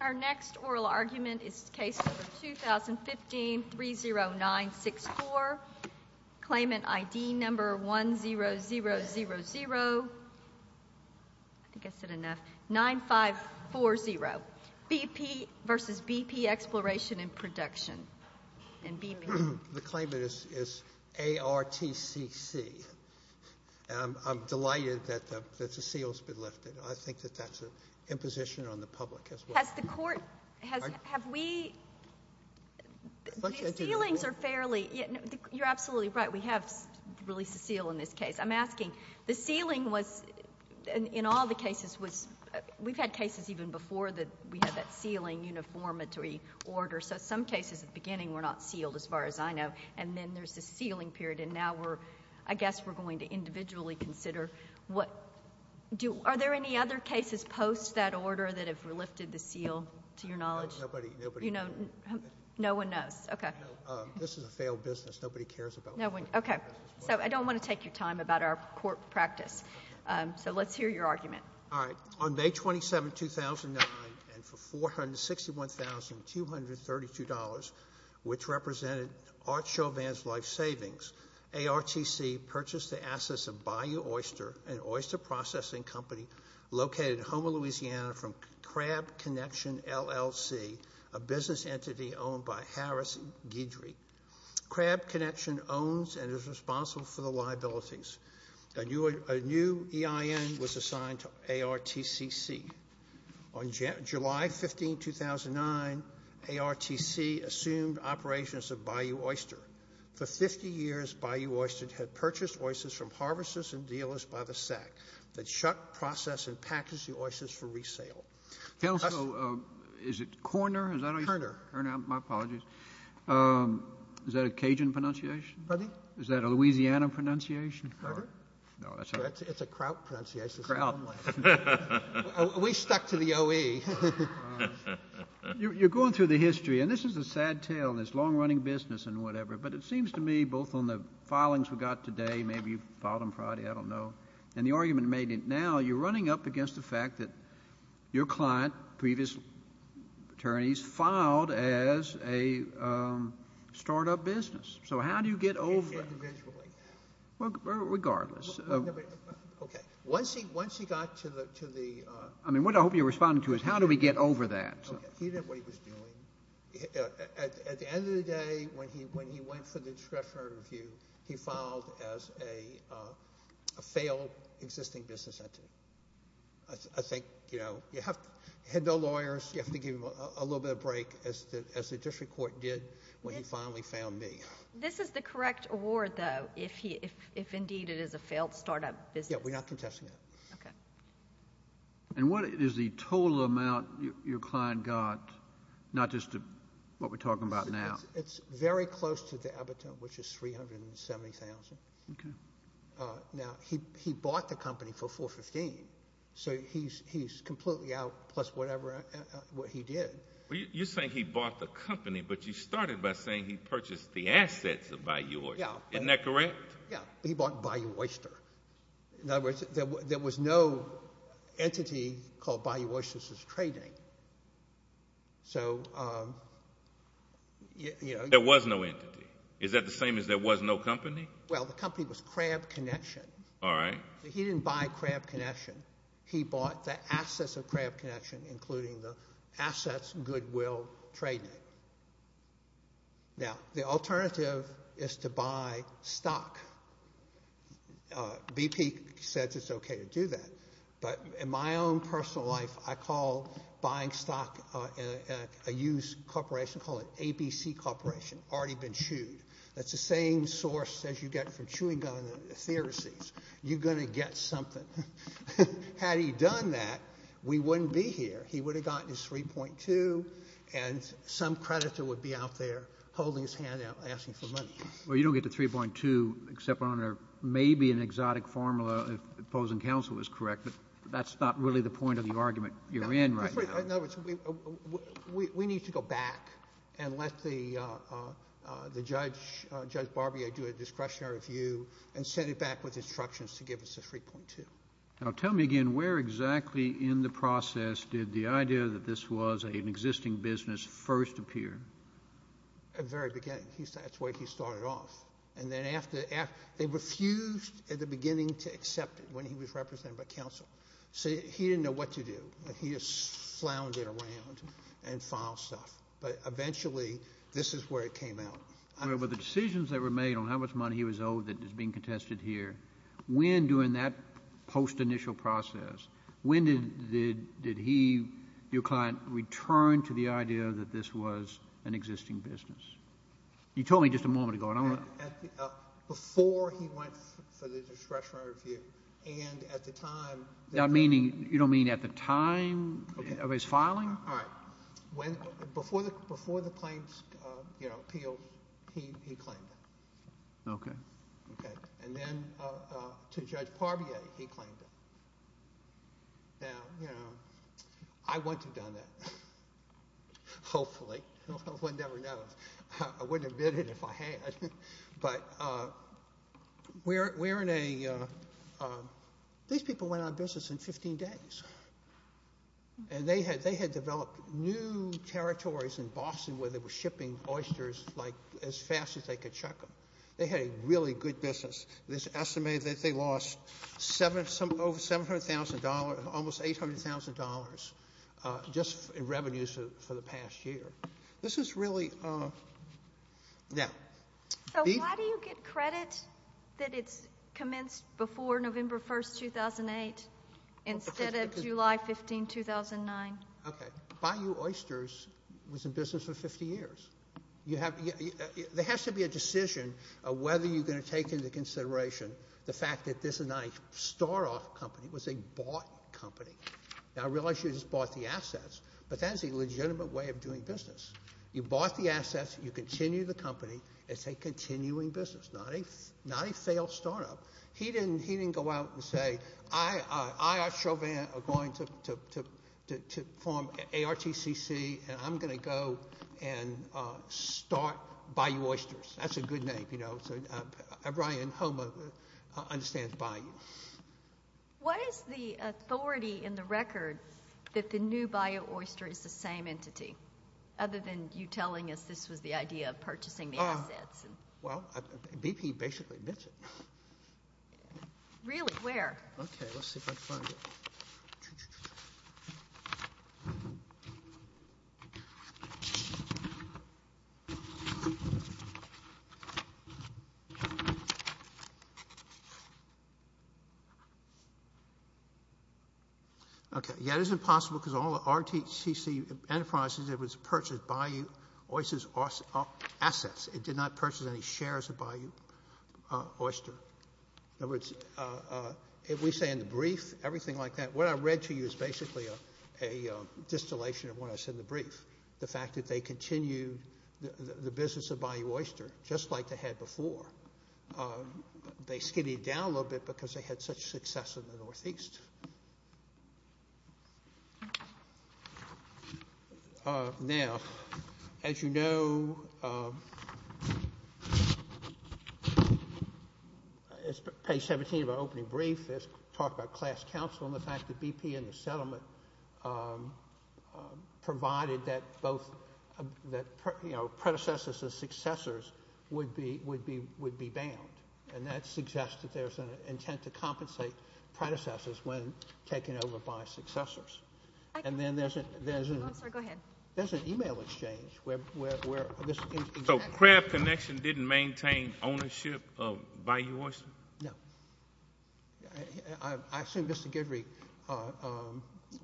Our next oral argument is case number 201530964, Claimant ID number 100009540, BP v. BP Exploration & Production. The claimant is ARTCC. I'm delighted that the seal's been lifted. I think that that's an imposition on the public as well. Has the court – have we – the sealings are fairly – you're absolutely right. We have released a seal in this case. I'm asking, the sealing was – in all the cases was – we've had cases even before that we had that sealing uniformity order. So some cases at the beginning were not sealed as far as I know, and then there's a sealing period. And now we're – I guess we're going to individually consider what – Are there any other cases post that order that have lifted the seal, to your knowledge? Nobody. You know – no one knows. Okay. This is a failed business. Nobody cares about it. No one – okay. So I don't want to take your time about our court practice. So let's hear your argument. All right. On May 27, 2009, and for $461,232, which represented Art Chauvin's life savings, ARTC purchased the assets of Bayou Oyster, an oyster processing company located in Houma, Louisiana, from Crab Connection, LLC, a business entity owned by Harris Guidry. Crab Connection owns and is responsible for the liabilities. A new EIN was assigned to ARTCC. On July 15, 2009, ARTC assumed operations of Bayou Oyster. For 50 years, Bayou Oyster had purchased oysters from harvesters and dealers by the sack that shuck, process, and package the oysters for resale. Tell us – Is it Corner? Is that how you say it? Kerner. My apologies. Is that a Cajun pronunciation? Pardon me? Is that a Louisiana pronunciation? Pardon? No, that's not it. It's a Kraut pronunciation. Kraut. We stuck to the O-E. You're going through the history. And this is a sad tale, this long-running business and whatever, but it seems to me both on the filings we got today, maybe you filed them Friday, I don't know, and the argument made now you're running up against the fact that your client, previous attorneys, filed as a startup business. So how do you get over – Individually. Regardless. Okay. Once he got to the – I mean, what I hope you're responding to is how do we get over that. He did what he was doing. At the end of the day, when he went for the discretionary review, he filed as a failed existing business entity. I think you have to – had no lawyers, you have to give him a little bit of break, as the district court did when he finally found me. This is the correct award, though, if indeed it is a failed startup business. Yeah, we're not contesting that. Okay. And what is the total amount your client got, not just what we're talking about now? It's very close to the abattoir, which is $370,000. Okay. Now, he bought the company for $415,000, so he's completely out plus whatever he did. You're saying he bought the company, but you started by saying he purchased the assets of Bayou Oyster. Yeah. Isn't that correct? Yeah, he bought Bayou Oyster. In other words, there was no entity called Bayou Oyster that was trading. There was no entity. Is that the same as there was no company? Well, the company was Crabb Connection. All right. He didn't buy Crabb Connection. He bought the assets of Crabb Connection, including the assets Goodwill traded. Now, the alternative is to buy stock. BP says it's okay to do that, but in my own personal life, I call buying stock a used corporation. I call it ABC Corporation, already been chewed. That's the same source as you get from chewing gum and ethereses. You're going to get something. Had he done that, we wouldn't be here. He would have gotten his 3.2, and some creditor would be out there holding his hand out asking for money. Well, you don't get the 3.2 except on maybe an exotic formula, if opposing counsel is correct, but that's not really the point of the argument you're in right now. In other words, we need to go back and let Judge Barbier do a discretionary review and send it back with instructions to give us the 3.2. Now, tell me again, where exactly in the process did the idea that this was an existing business first appear? At the very beginning. That's where he started off. And then they refused at the beginning to accept it when he was represented by counsel. So he didn't know what to do. He just floundered around and filed stuff. But eventually, this is where it came out. Well, the decisions that were made on how much money he was owed that is being contested here, when during that post-initial process, when did he, your client, return to the idea that this was an existing business? You told me just a moment ago. Before he went for the discretionary review, and at the time... You don't mean at the time of his filing? All right. Before the claims appealed, he claimed it. Okay. Okay. And then to Judge Parbiot, he claimed it. Now, you know, I wouldn't have done that. Hopefully. One never knows. I wouldn't have did it if I had. But we're in a... These people went out of business in 15 days. And they had developed new territories in Boston where they were shipping oysters, like, as fast as they could chuck them. They had a really good business. It's estimated that they lost over $700,000, almost $800,000 just in revenues for the past year. This is really... So why do you get credit that it's commenced before November 1, 2008, instead of July 15, 2009? Okay. Bayou Oysters was in business for 50 years. There has to be a decision of whether you're going to take into consideration the fact that this is not a start-off company. It was a bought company. Now, I realize you just bought the assets, but that is a legitimate way of doing business. You bought the assets, you continue the company. It's a continuing business, not a failed start-up. He didn't go out and say, I, Art Chauvin, am going to form ARTCC, and I'm going to go and start Bayou Oysters. That's a good name, you know. Ryan Homer understands Bayou. What is the authority in the record that the new Bayou Oyster is the same entity, other than you telling us this was the idea of purchasing the assets? Well, BP basically admits it. Really? Where? Okay, let's see if I can find it. Okay. Okay, yeah, it is impossible because all the ARTCC enterprises, it was purchased Bayou Oysters assets. It did not purchase any shares of Bayou Oyster. In other words, if we say in the brief, everything like that, what I read to you is basically a distillation of what I said in the brief. The fact that they continued the business of Bayou Oyster just like they had before. They skidded down a little bit because they had such success in the Northeast. Now, as you know... It's page 17 of our opening brief. It talks about class counsel and the fact that BP and the settlement provided that both predecessors and successors would be banned, and that suggests that there's an intent to compensate predecessors when taken over by successors. And then there's an... Oh, I'm sorry, go ahead. There's an email exchange where... So Crabb Connection didn't maintain ownership of Bayou Oyster? No. I assume Mr Guidry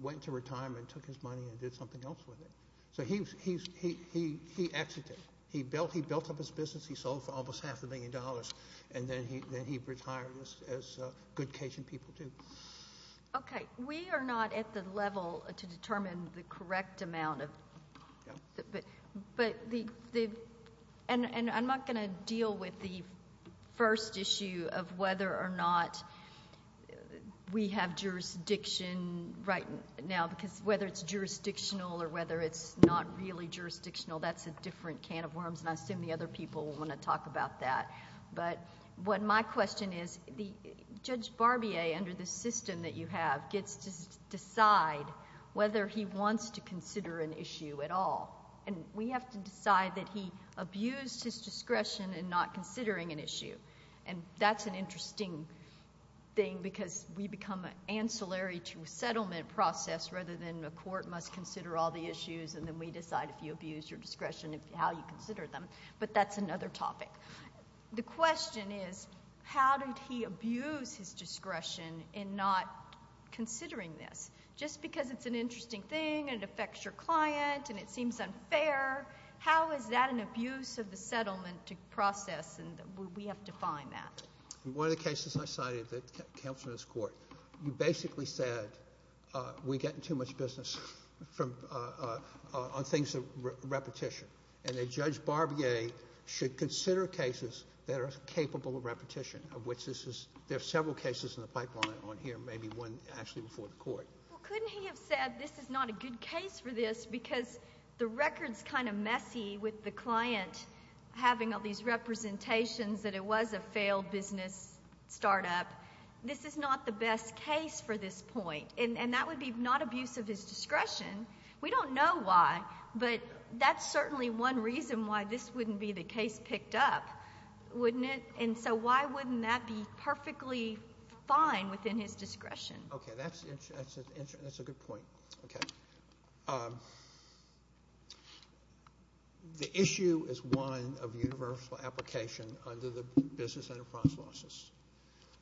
went into retirement, took his money and did something else with it. So he exited. He built up his business, he sold for almost half a million dollars, and then he retired, as good Cajun people do. OK, we are not at the level to determine the correct amount of... And I'm not going to deal with the first issue of whether or not we have jurisdiction right now, because whether it's jurisdictional or whether it's not really jurisdictional, that's a different can of worms, and I assume the other people want to talk about that. But what my question is, Judge Barbier, under the system that you have, gets to decide whether he wants to consider an issue at all, and we have to decide that he abused his discretion in not considering an issue, and that's an interesting thing, because we become ancillary to a settlement process rather than the court must consider all the issues and then we decide if you abuse your discretion, how you consider them, but that's another topic. The question is, how did he abuse his discretion in not considering this? Just because it's an interesting thing and it affects your client and it seems unfair, how is that an abuse of the settlement process and we have to find that? One of the cases I cited that comes from this court, you basically said, we're getting too much business on things of repetition, and that Judge Barbier should consider cases that are capable of repetition, of which there are several cases in the pipeline on here, maybe one actually before the court. Well, couldn't he have said this is not a good case for this because the record's kind of messy with the client having all these representations that it was a failed business start-up. This is not the best case for this point, and that would be not abuse of his discretion. We don't know why, but that's certainly one reason why this wouldn't be the case picked up, wouldn't it? And so why wouldn't that be perfectly fine within his discretion? Okay, that's a good point. The issue is one of universal application under the Business Enterprise Laws.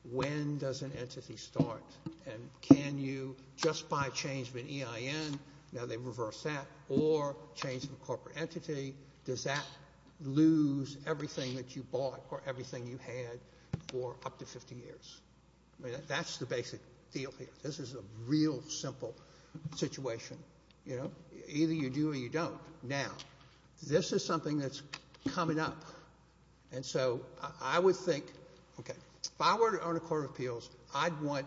When does an entity start, and can you just by change of an EIN, now they've reversed that, or change of a corporate entity, does that lose everything that you bought or everything you had for up to 50 years? I mean, that's the basic deal here. This is a real simple situation, you know? Either you do or you don't. Now, this is something that's coming up, and so I would think, okay, if I were to own a court of appeals, I'd want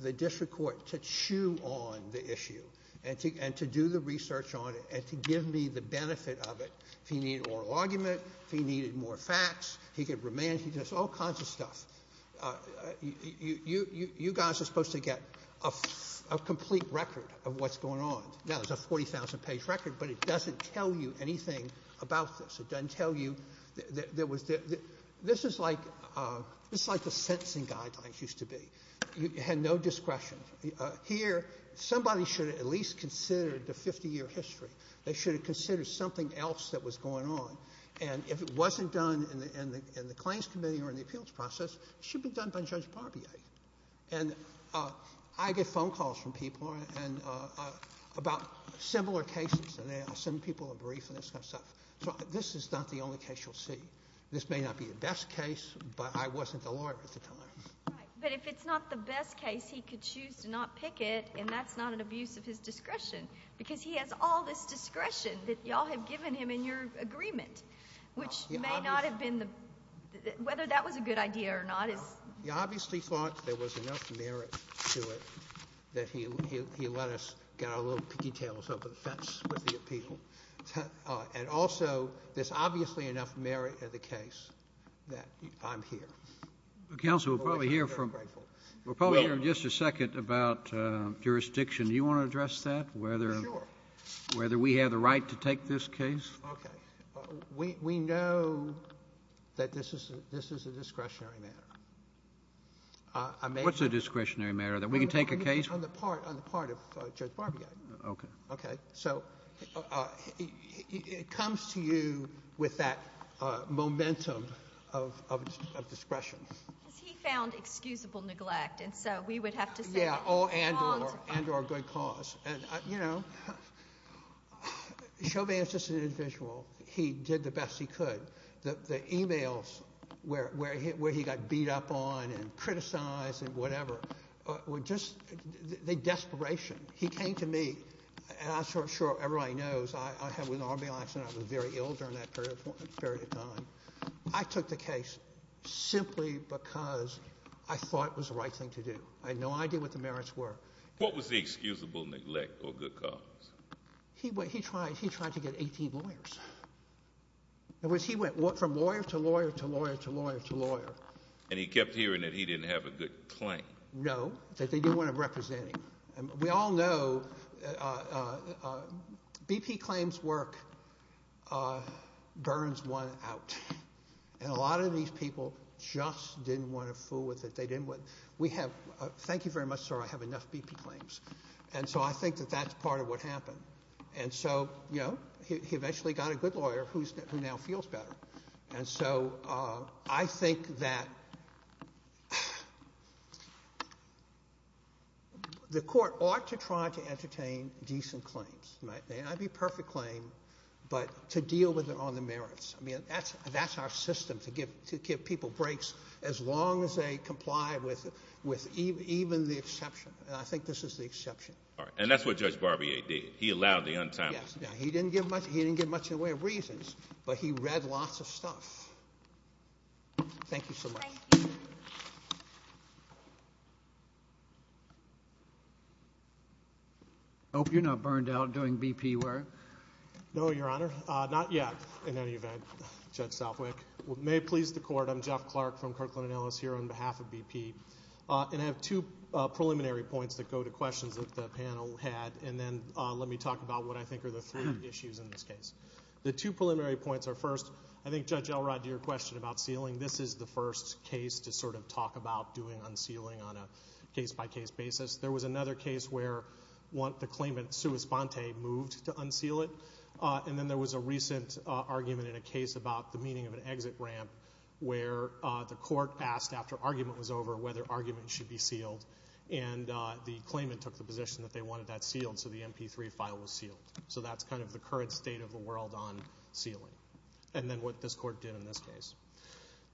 the district court to chew on the issue and to do the research on it and to give me the benefit of it. If he needed an oral argument, if he needed more facts, he could remand, he does all kinds of stuff. You guys are supposed to get a complete record of what's going on. Now, it's a 40,000-page record, but it doesn't tell you anything about this. It doesn't tell you... This is like the sentencing guidelines used to be. You had no discretion. Here, somebody should have at least considered the 50-year history. They should have considered something else that was going on, and if it wasn't done in the claims committee or in the appeals process, it should have been done by Judge Barbier. And I get phone calls from people about similar cases, and I send people a brief and this kind of stuff. So this is not the only case you'll see. This may not be the best case, but I wasn't the lawyer at the time. Right, but if it's not the best case, he could choose to not pick it, and that's not an abuse of his discretion, because he has all this discretion that you all have given him in your agreement, which may not have been the... Whether that was a good idea or not is... He obviously thought there was enough merit to it that he let us get our little pigtails over the fence with the appeal. And also, there's obviously enough merit in the case that I'm here. Counsel, we'll probably hear from... We'll probably hear in just a second about jurisdiction. Do you want to address that? Sure. Whether we have the right to take this case? Okay. We know that this is a discretionary matter. What's a discretionary matter? We can take a case... On the part of Judge Barbier. Okay. So it comes to you with that momentum of discretion. Because he found excusable neglect, and so we would have to say... Yeah, and or a good cause. And, you know, Chauvin's just an individual. He did the best he could. The e-mails where he got beat up on and criticized and whatever were just the desperation. He came to me, and I'm sure everybody knows, I had an army accident. I was very ill during that period of time. I took the case simply because I thought it was the right thing to do. I had no idea what the merits were. What was the excusable neglect or good cause? He tried to get 18 lawyers. In other words, he went from lawyer to lawyer to lawyer to lawyer to lawyer. And he kept hearing that he didn't have a good claim. No, that they didn't want to represent him. We all know BP claims work burns one out. And a lot of these people just didn't want to fool with it. Thank you very much, sir. I have enough BP claims. And so I think that that's part of what happened. And so, you know, he eventually got a good lawyer who now feels better. And so I think that the court ought to try to entertain decent claims. It might not be a perfect claim, but to deal with it on the merits. I mean, that's our system, to give people breaks as long as they comply with even the exception. And I think this is the exception. All right. And that's what Judge Barbier did. He allowed the untimely. Yes. Now, he didn't give much in the way of reasons, but he read lots of stuff. Thank you so much. Thank you. I hope you're not burned out doing BP work. No, Your Honor. Not yet, in any event, Judge Southwick. May it please the court. I'm Jeff Clark from Kirkland & Ellis here on behalf of BP. And I have two preliminary points that go to questions that the panel had. And then let me talk about what I think are the three issues in this case. The two preliminary points are, first, I think, Judge Elrod, to your question about sealing, this is the first case to sort of talk about doing unsealing on a case-by-case basis. There was another case where the claimant, Sue Esponte, moved to unseal it. And then there was a recent argument in a case about the meaning of an exit ramp where the court asked, after argument was over, whether argument should be sealed. And the claimant took the position that they wanted that sealed, so the MP3 file was sealed. So that's kind of the current state of the world on sealing, and then what this court did in this case.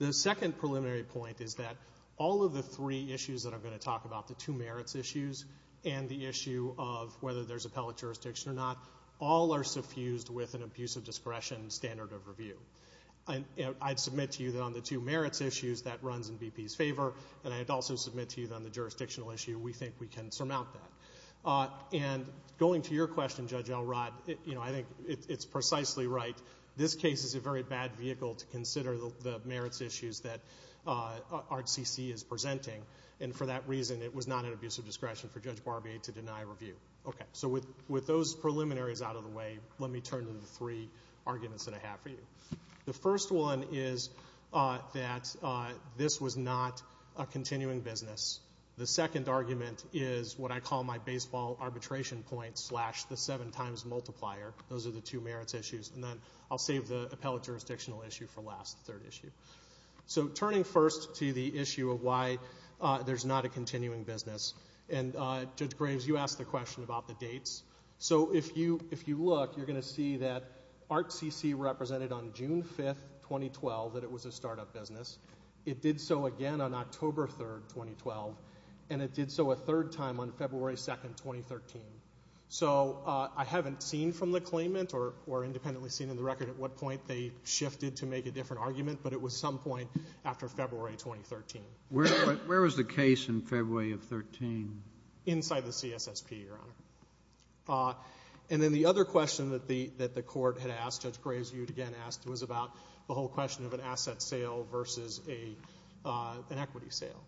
The second preliminary point is that all of the three issues that I'm going to talk about, the two merits issues and the issue of whether there's appellate jurisdiction or not, all are suffused with an abuse of discretion standard of review. I'd submit to you that on the two merits issues, that runs in BP's favor, and I'd also submit to you that on the jurisdictional issue, we think we can surmount that. And going to your question, Judge Elrod, you know, I think it's precisely right. This case is a very bad vehicle to consider the merits issues that Art CC is presenting, and for that reason it was not an abuse of discretion for Judge Barbier to deny review. Okay. So with those preliminaries out of the way, let me turn to the three arguments that I have for you. The first one is that this was not a continuing business. The second argument is what I call my baseball arbitration point slash the seven times multiplier. Those are the two merits issues. And then I'll save the appellate jurisdictional issue for last, the third issue. So turning first to the issue of why there's not a continuing business, and Judge Graves, you asked the question about the dates. So if you look, you're going to see that Art CC represented on June 5, 2012, that it was a startup business. It did so again on October 3, 2012, and it did so a third time on February 2, 2013. So I haven't seen from the claimant or independently seen in the record at what point they shifted to make a different argument, but it was some point after February 2013. Where was the case in February of 2013? Inside the CSSP, Your Honor. And then the other question that the court had asked, Judge Graves, you again asked, was about the whole question of an asset sale versus an equity sale.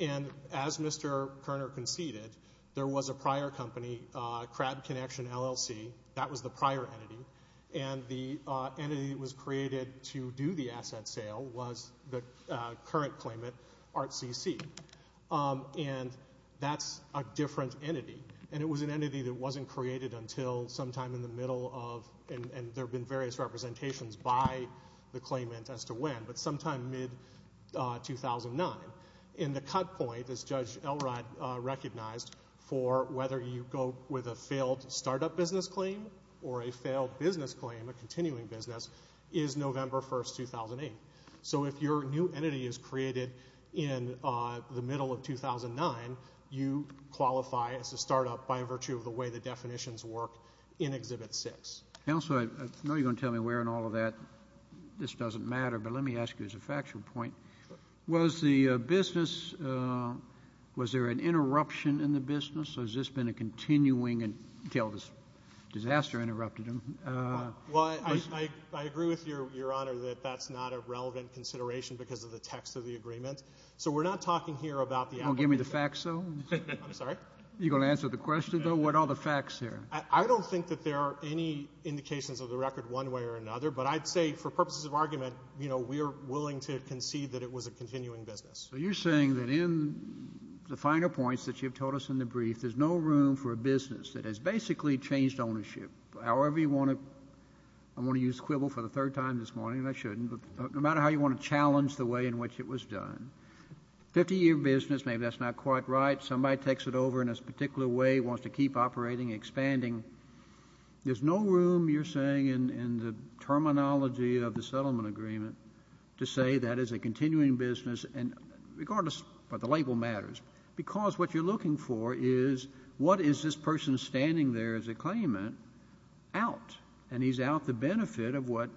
And as Mr. Koerner conceded, there was a prior company, Crab Connection LLC, that was the prior entity, and the entity that was created to do the asset sale was the current claimant, Art CC. And that's a different entity, and it was an entity that wasn't created until sometime in the middle of, and there have been various representations by the claimant as to when, but sometime mid-2009. And the cut point, as Judge Elrod recognized, for whether you go with a failed startup business claim or a failed business claim, a continuing business, is November 1, 2008. So if your new entity is created in the middle of 2009, you qualify as a startup by virtue of the way the definitions work in Exhibit 6. Counselor, I know you're going to tell me where in all of that this doesn't matter, but let me ask you as a factual point. Was the business, was there an interruption in the business, or has this been a continuing until this disaster interrupted them? Well, I agree with you, Your Honor, that that's not a relevant consideration because of the text of the agreement. So we're not talking here about the actual business. You going to give me the facts, though? I'm sorry? You going to answer the question, though? What are the facts here? I don't think that there are any indications of the record one way or another, but I'd say for purposes of argument, you know, we are willing to concede that it was a continuing business. So you're saying that in the finer points that you've told us in the brief, there's no room for a business that has basically changed ownership however you want to, I'm going to use quibble for the third time this morning, and I shouldn't, no matter how you want to challenge the way in which it was done. Fifty-year business, maybe that's not quite right. Somebody takes it over in a particular way, wants to keep operating, expanding. There's no room, you're saying in the terminology of the settlement agreement, to say that is a continuing business regardless of the label matters because what you're looking for is what is this person standing there as a claimant out, and he's out the benefit of what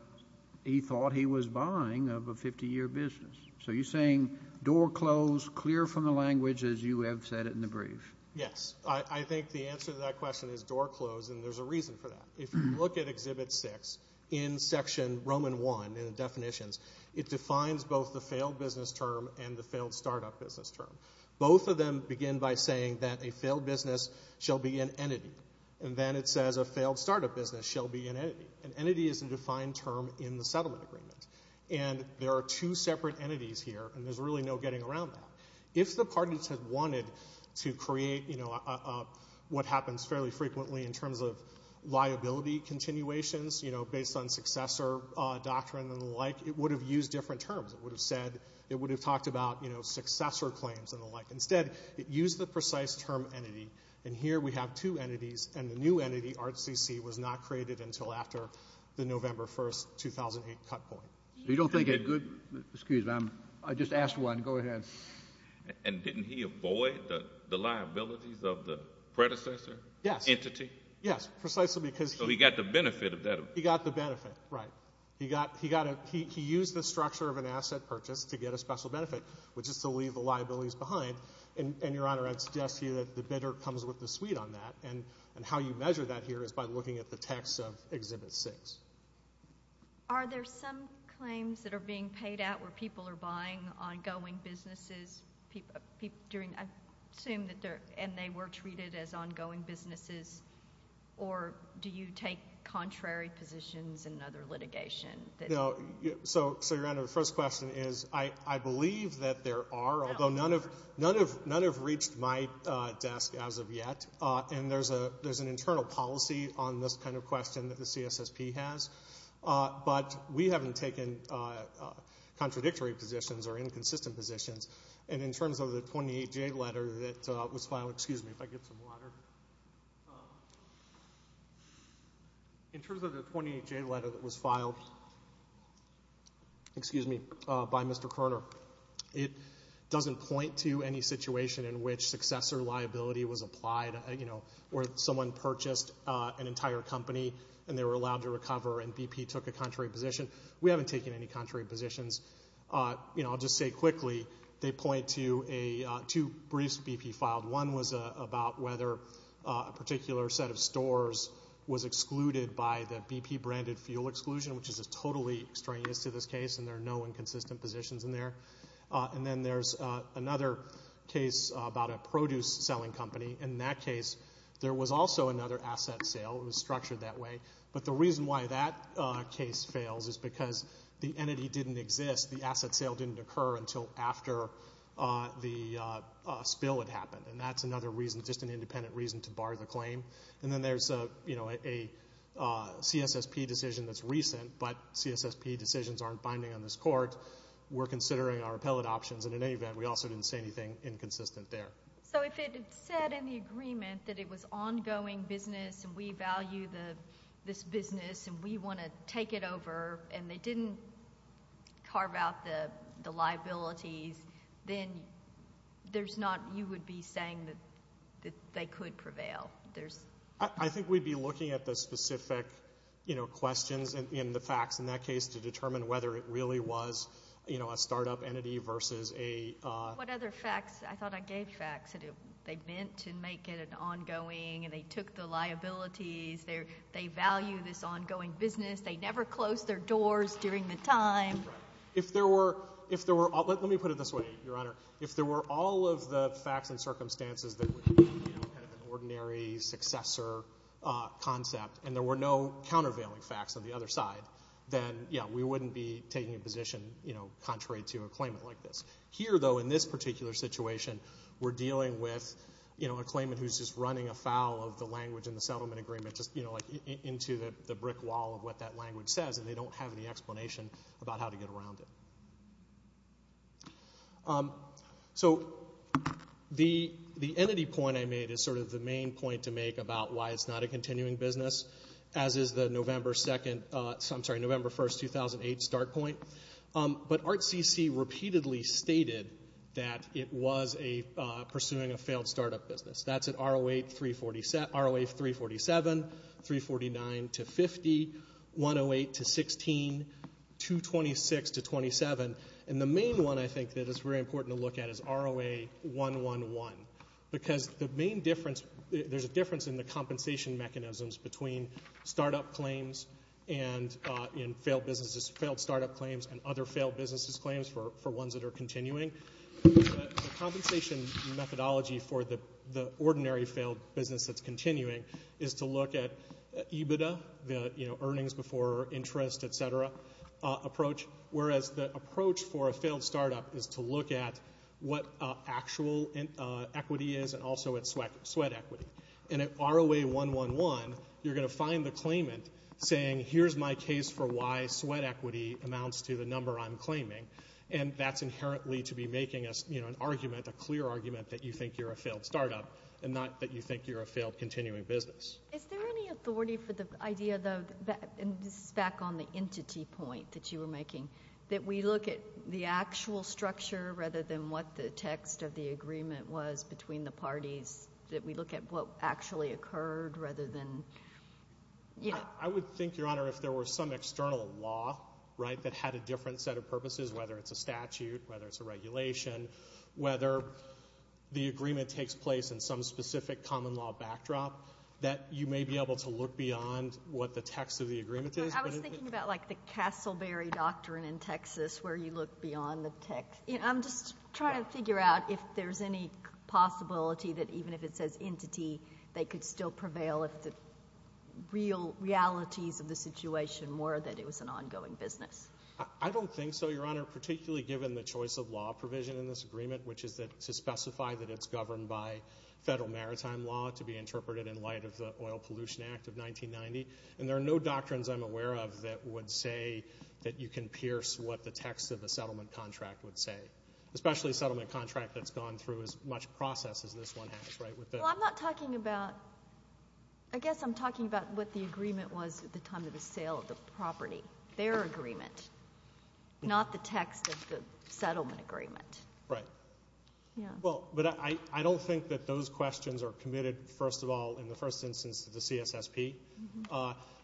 he thought he was buying of a 50-year business. So you're saying door closed, clear from the language as you have said it in the brief. Yes. I think the answer to that question is door closed, and there's a reason for that. If you look at Exhibit 6 in Section Roman I in the definitions, it defines both the failed business term and the failed startup business term. Both of them begin by saying that a failed business shall be an entity, and then it says a failed startup business shall be an entity. An entity is a defined term in the settlement agreement, and there are two separate entities here, and there's really no getting around that. If the parties had wanted to create what happens fairly frequently in terms of liability continuations based on successor doctrine and the like, it would have used different terms. It would have said, it would have talked about successor claims and the like. Instead, it used the precise term entity, and here we have two entities, and the new entity, RCC, was not created until after the November 1, 2008, cut point. You don't think a good—excuse me, I just asked one. Go ahead. And didn't he avoid the liabilities of the predecessor entity? Yes, precisely because he— So he got the benefit of that. He got the benefit, right. He used the structure of an asset purchase to get a special benefit, which is to leave the liabilities behind. And, Your Honor, I suggest to you that the bidder comes with the suite on that, and how you measure that here is by looking at the text of Exhibit 6. Are there some claims that are being paid out where people are buying ongoing businesses during— I assume that they're—and they were treated as ongoing businesses, or do you take contrary positions in other litigation? So, Your Honor, the first question is I believe that there are, although none have reached my desk as of yet, and there's an internal policy on this kind of question that the CSSP has, but we haven't taken contradictory positions or inconsistent positions. And in terms of the 28J letter that was filed—excuse me if I get some water. In terms of the 28J letter that was filed by Mr. Kerner, it doesn't point to any situation in which successor liability was applied, where someone purchased an entire company and they were allowed to recover and BP took a contrary position. We haven't taken any contrary positions. I'll just say quickly, they point to two briefs BP filed. One was about whether a particular set of stores was excluded by the BP-branded fuel exclusion, which is totally extraneous to this case, and there are no inconsistent positions in there. And then there's another case about a produce-selling company. In that case, there was also another asset sale. It was structured that way. But the reason why that case fails is because the entity didn't exist. The asset sale didn't occur until after the spill had happened, and that's another reason, just an independent reason to bar the claim. And then there's a CSSP decision that's recent, but CSSP decisions aren't binding on this court. We're considering our appellate options, and in any event, we also didn't say anything inconsistent there. So if it said in the agreement that it was ongoing business and we value this business and we want to take it over and they didn't carve out the liabilities, then there's not you would be saying that they could prevail. I think we'd be looking at the specific questions and the facts in that case to determine whether it really was a startup entity versus a- What other facts? I thought I gave facts. They meant to make it an ongoing and they took the liabilities. They value this ongoing business. They never closed their doors during the time. Right. Let me put it this way, Your Honor. If there were all of the facts and circumstances that would be an ordinary successor concept and there were no countervailing facts on the other side, then, yeah, we wouldn't be taking a position contrary to a claimant like this. Here, though, in this particular situation, we're dealing with a claimant who's just running afoul of the language in the settlement agreement, just into the brick wall of what that language says, and they don't have any explanation about how to get around it. So the entity point I made is sort of the main point to make about why it's not a continuing business, as is the November 1, 2008, start point. But ART-CC repeatedly stated that it was pursuing a failed startup business. That's at ROA 347, 349 to 50, 108 to 16, 226 to 27, and the main one I think that it's very important to look at is ROA 111, because the main difference, there's a difference in the compensation mechanisms between startup claims and failed startup claims and other failed businesses' claims for ones that are continuing. The compensation methodology for the ordinary failed business that's continuing is to look at EBITDA, the earnings before interest, et cetera, approach, whereas the approach for a failed startup is to look at what actual equity is and also at sweat equity. And at ROA 111, you're going to find the claimant saying, here's my case for why sweat equity amounts to the number I'm claiming, and that's inherently to be making an argument, a clear argument that you think you're a failed startup and not that you think you're a failed continuing business. Is there any authority for the idea, though, and this is back on the entity point that you were making, that we look at the actual structure rather than what the text of the agreement was between the parties, that we look at what actually occurred rather than, you know. I would think, Your Honor, if there were some external law, right, that had a different set of purposes, whether it's a statute, whether it's a regulation, whether the agreement takes place in some specific common law backdrop, that you may be able to look beyond what the text of the agreement is. I was thinking about, like, the Castleberry Doctrine in Texas where you look beyond the text. I'm just trying to figure out if there's any possibility that even if it says entity, they could still prevail if the real realities of the situation were that it was an ongoing business. I don't think so, Your Honor, particularly given the choice of law provision in this agreement, which is to specify that it's governed by federal maritime law to be interpreted in light of the Oil Pollution Act of 1990, and there are no doctrines I'm aware of that would say that you can pierce what the text of the settlement contract would say, especially a settlement contract that's gone through as much process as this one has, right? Well, I'm not talking about – I guess I'm talking about what the agreement was at the time of the sale of the property, their agreement, not the text of the settlement agreement. Right. Yeah. Well, but I don't think that those questions are committed, first of all, in the first instance to the CSSP.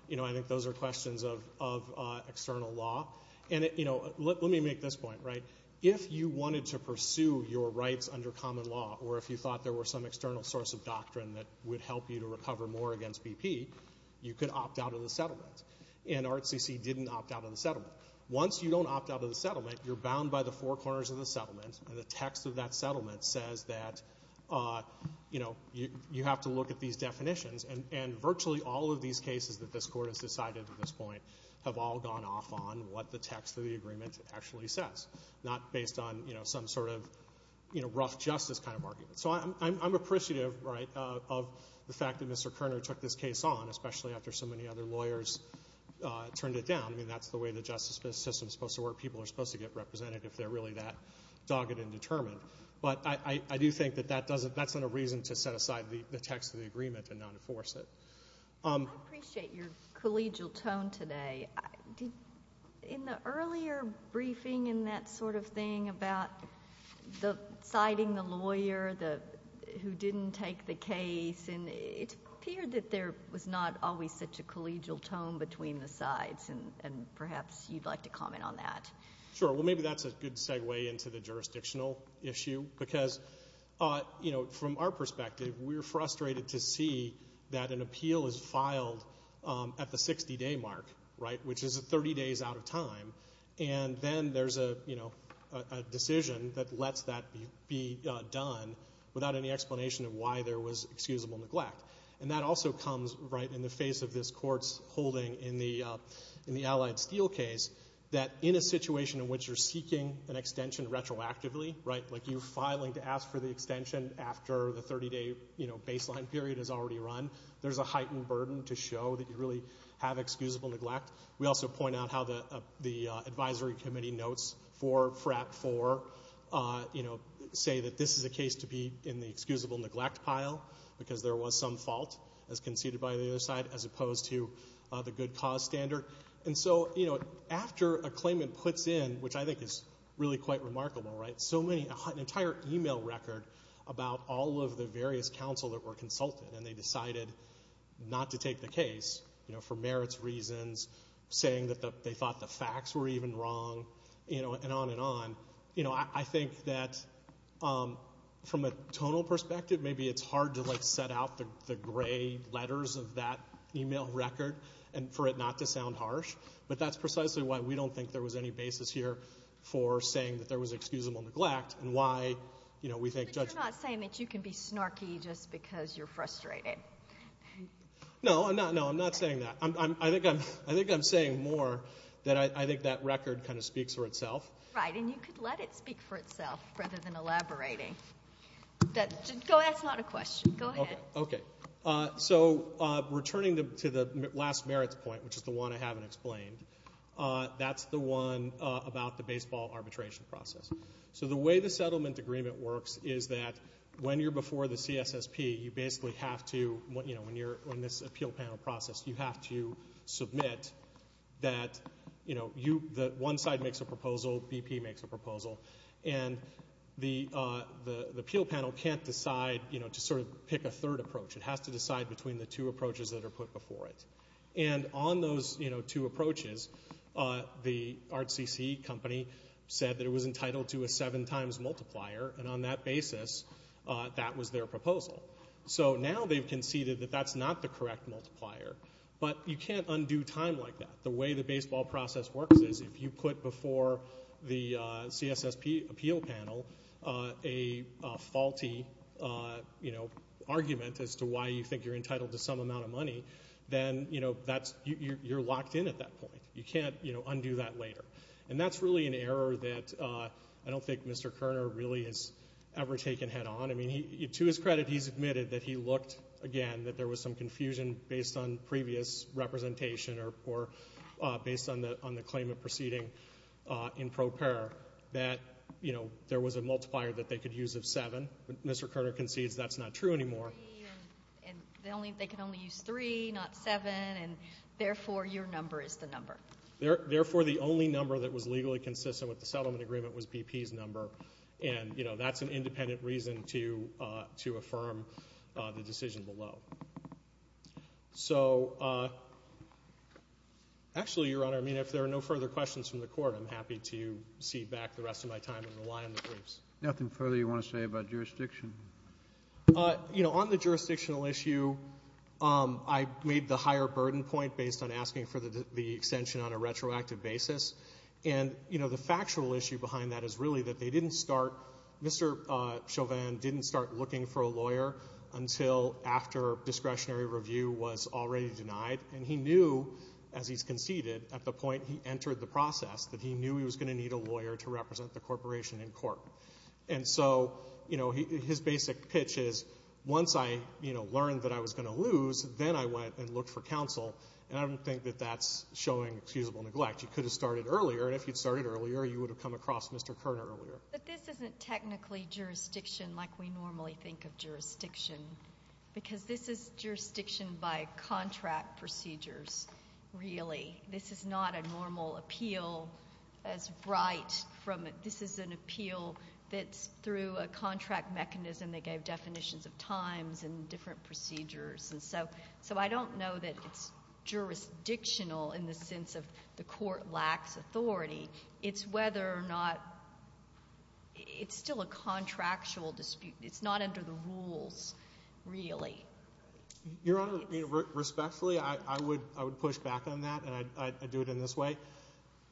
You know, I think those are questions of external law. And, you know, let me make this point, right? If you wanted to pursue your rights under common law or if you thought there were some external source of doctrine that would help you to recover more against BP, you could opt out of the settlement. And RCC didn't opt out of the settlement. Once you don't opt out of the settlement, you're bound by the four corners of the settlement, and the text of that settlement says that, you know, you have to look at these definitions. And virtually all of these cases that this Court has decided at this point have all gone off on what the text of the agreement actually says, not based on, you know, some sort of, you know, rough justice kind of argument. So I'm appreciative, right, of the fact that Mr. Kerner took this case on, especially after so many other lawyers turned it down. I mean, that's the way the justice system is supposed to work. People are supposed to get represented if they're really that dogged and determined. But I do think that that's not a reason to set aside the text of the agreement and not enforce it. I appreciate your collegial tone today. In the earlier briefing and that sort of thing about citing the lawyer who didn't take the case, it appeared that there was not always such a collegial tone between the sides, and perhaps you'd like to comment on that. Sure. Well, maybe that's a good segue into the jurisdictional issue because, you know, from our perspective, we're frustrated to see that an appeal is filed at the 60-day mark, right, which is 30 days out of time, and then there's a decision that lets that be done without any explanation of why there was excusable neglect. And that also comes right in the face of this Court's holding in the Allied Steel case that in a situation in which you're seeking an extension retroactively, right, like you're filing to ask for the extension after the 30-day baseline period has already run, there's a heightened burden to show that you really have excusable neglect. We also point out how the advisory committee notes for FRAP 4, you know, say that this is a case to be in the excusable neglect pile because there was some fault, as conceded by the other side, as opposed to the good cause standard. And so, you know, after a claimant puts in, which I think is really quite remarkable, right, so many, an entire email record about all of the various counsel that were consulted and they decided not to take the case, you know, for merits reasons, saying that they thought the facts were even wrong, you know, and on and on. You know, I think that from a tonal perspective, maybe it's hard to, like, set out the gray letters of that email record for it not to sound harsh, but that's precisely why we don't think there was any basis here for saying that there was excusable neglect and why, you know, we think judgment. But you're not saying that you can be snarky just because you're frustrated. No, I'm not saying that. I think I'm saying more that I think that record kind of speaks for itself. Right, and you could let it speak for itself rather than elaborating. That's not a question. Go ahead. Okay. So returning to the last merits point, which is the one I haven't explained, that's the one about the baseball arbitration process. So the way the settlement agreement works is that when you're before the CSSP, you basically have to, you know, when you're in this appeal panel process, you have to submit that, you know, one side makes a proposal, BP makes a proposal, and the appeal panel can't decide, you know, to sort of pick a third approach. It has to decide between the two approaches that are put before it. And on those, you know, two approaches, the RCC company said that it was entitled to a seven times multiplier, and on that basis, that was their proposal. So now they've conceded that that's not the correct multiplier, but you can't undo time like that. The way the baseball process works is if you put before the CSSP appeal panel a faulty, you know, argument as to why you think you're entitled to some amount of money, then, you know, you're locked in at that point. You can't, you know, undo that later. And that's really an error that I don't think Mr. Kerner really has ever taken head on. I mean, to his credit, he's admitted that he looked, again, that there was some confusion based on previous representation or based on the claim of proceeding in pro par that, you know, there was a multiplier that they could use of seven. Mr. Kerner concedes that's not true anymore. And they can only use three, not seven, and therefore, your number is the number. Therefore, the only number that was legally consistent with the settlement agreement was BP's number. And, you know, that's an independent reason to affirm the decision below. So actually, Your Honor, I mean, if there are no further questions from the Court, I'm happy to cede back the rest of my time and rely on the briefs. Nothing further you want to say about jurisdiction? You know, on the jurisdictional issue, I made the higher burden point based on asking for the extension on a retroactive basis. And, you know, the factual issue behind that is really that they didn't start, Mr. Chauvin didn't start looking for a lawyer until after discretionary review was already denied. And he knew, as he's conceded, at the point he entered the process, that he knew he was going to need a lawyer to represent the corporation in court. And so, you know, his basic pitch is, once I, you know, learned that I was going to lose, then I went and looked for counsel. And I don't think that that's showing excusable neglect. You could have started earlier. And if you'd started earlier, you would have come across Mr. Kerner earlier. But this isn't technically jurisdiction like we normally think of jurisdiction because this is jurisdiction by contract procedures, really. This is not a normal appeal as right from a – this is an appeal that's through a contract mechanism. They gave definitions of times and different procedures. And so I don't know that it's jurisdictional in the sense of the court lacks authority. It's whether or not – it's still a contractual dispute. It's not under the rules, really. Your Honor, respectfully, I would push back on that, and I'd do it in this way.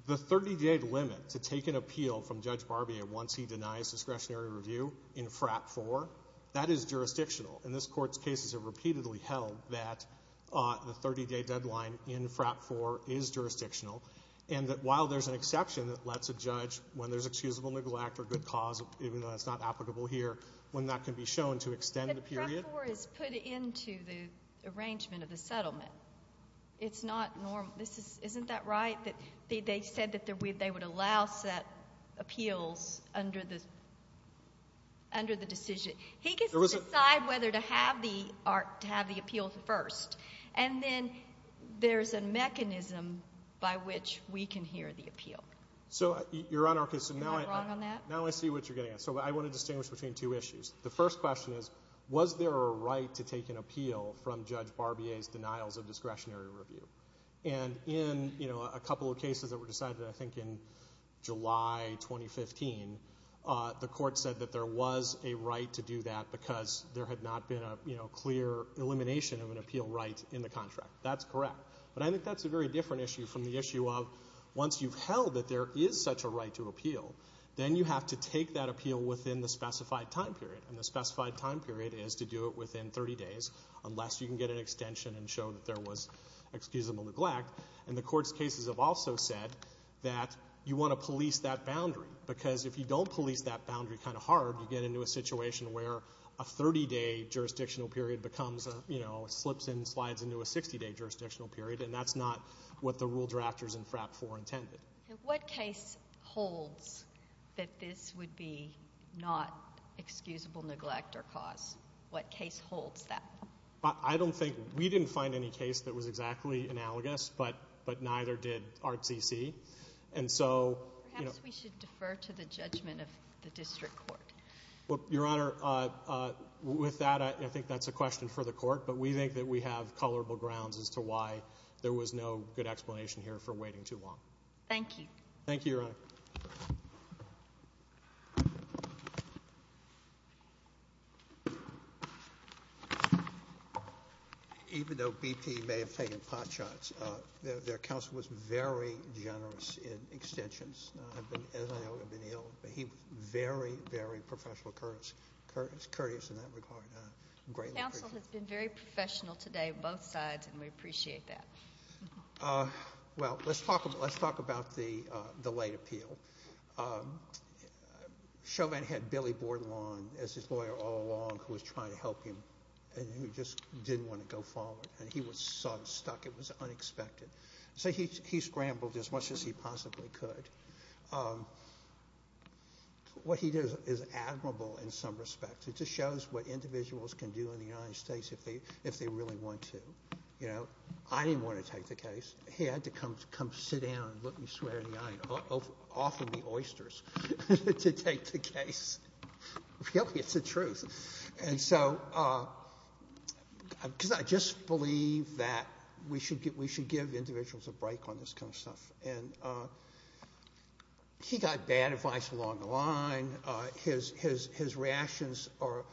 The 30-day limit to take an appeal from Judge Barbier once he denies discretionary review in FRAP 4, that is jurisdictional. And this Court's cases have repeatedly held that the 30-day deadline in FRAP 4 is jurisdictional and that while there's an exception that lets a judge, when there's excusable neglect or good cause, even though that's not applicable here, when that can be shown to extend the period. But FRAP 4 is put into the arrangement of the settlement. It's not normal. Isn't that right? They said that they would allow set appeals under the decision. He gets to decide whether to have the appeal first, and then there's a mechanism by which we can hear the appeal. Your Honor, now I see what you're getting at. So I want to distinguish between two issues. The first question is, was there a right to take an appeal from Judge Barbier's denials of discretionary review? And in a couple of cases that were decided, I think, in July 2015, the Court said that there was a right to do that because there had not been a clear elimination of an appeal right in the contract. That's correct. But I think that's a very different issue from the issue of once you've held that there is such a right to appeal, then you have to take that appeal within the specified time period. And the specified time period is to do it within 30 days, unless you can get an extension and show that there was excusable neglect. And the Court's cases have also said that you want to police that boundary because if you don't police that boundary kind of hard, you get into a situation where a 30-day jurisdictional period becomes a, you know, slips and slides into a 60-day jurisdictional period, and that's not what the rule drafters in FRAP 4 intended. What case holds that this would be not excusable neglect or cause? What case holds that? I don't think we didn't find any case that was exactly analogous, but neither did ART-CC. Perhaps we should defer to the judgment of the District Court. Your Honor, with that, I think that's a question for the Court, but we think that we have colorable grounds as to why there was no good explanation here for waiting too long. Thank you. Thank you, Your Honor. Even though BP may have taken pot shots, their counsel was very generous in extensions. As I know, he had been ill, but he was very, very professional, courteous in that regard. Counsel has been very professional today on both sides, and we appreciate that. Well, let's talk about the late appeal. Chauvin had Billy Bordelon as his lawyer all along, who was trying to help him and who just didn't want to go forward, and he was so stuck. It was unexpected. So he scrambled as much as he possibly could. What he does is admirable in some respects. It just shows what individuals can do in the United States if they really want to. I didn't want to take the case. He had to come sit down and look me straight in the eye and offer me oysters to take the case. Really, it's the truth. I just believe that we should give individuals a break on this kind of stuff. He got bad advice along the line. His reactions are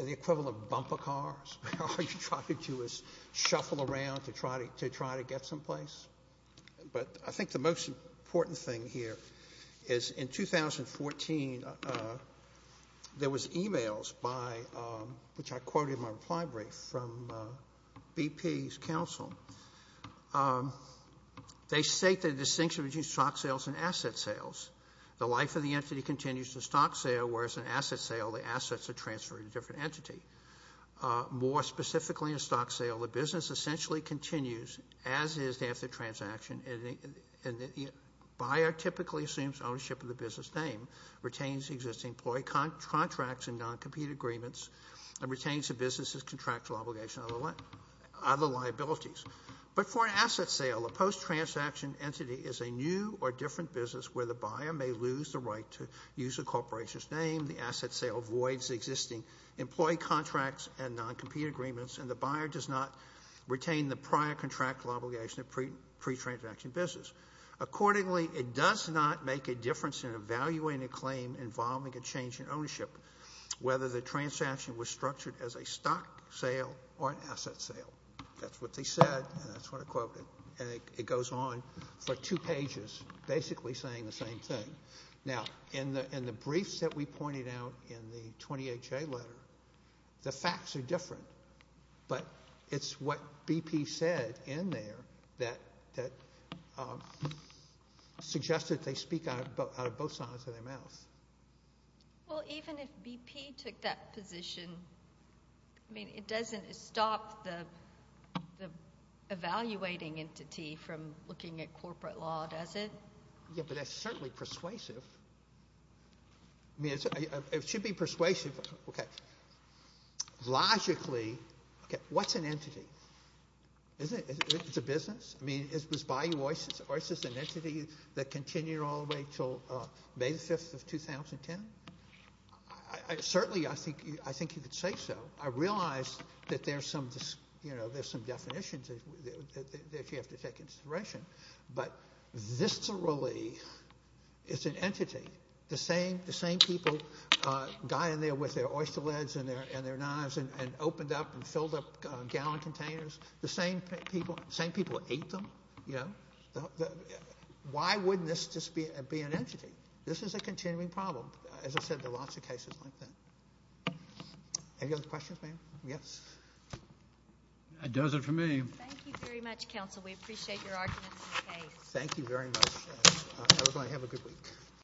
the equivalent of bumper cars. All you try to do is shuffle around to try to get someplace. But I think the most important thing here is in 2014, there was e-mails, which I quoted in my reply brief, from BP's counsel. They state the distinction between stock sales and asset sales. The life of the entity continues to stock sale, whereas in asset sale, the assets are transferred to a different entity. More specifically in stock sale, the business essentially continues as is after the transaction. The buyer typically assumes ownership of the business name, retains the existing employee contracts and non-compete agreements, and retains the business's contractual obligation on the liabilities. But for an asset sale, a post-transaction entity is a new or different business where the buyer may lose the right to use the corporation's name. The asset sale voids existing employee contracts and non-compete agreements, and the buyer does not retain the prior contractual obligation of the pre-transaction business. Accordingly, it does not make a difference in evaluating a claim involving a change in ownership, whether the transaction was structured as a stock sale or an asset sale. That's what they said, and that's what I quoted. And it goes on for two pages, basically saying the same thing. Now, in the briefs that we pointed out in the 20HA letter, the facts are different, but it's what BP said in there that suggested they speak out of both sides of their mouth. Well, even if BP took that position, I mean, it doesn't stop the evaluating entity from looking at corporate law, does it? Yeah, but that's certainly persuasive. I mean, it should be persuasive. Logically, what's an entity? It's a business? I mean, is this by you or is this an entity that continued all the way until May 5th of 2010? Certainly, I think you could say so. I realize that there's some definitions that you have to take into consideration, but viscerally, it's an entity. The same people got in there with their oyster lids and their knives and opened up and filled up gallon containers. The same people ate them. Why wouldn't this just be an entity? This is a continuing problem. As I said, there are lots of cases like that. Any other questions, ma'am? Yes? That does it for me. Thank you very much, counsel. We appreciate your arguments in the case. Thank you very much. Have a good week.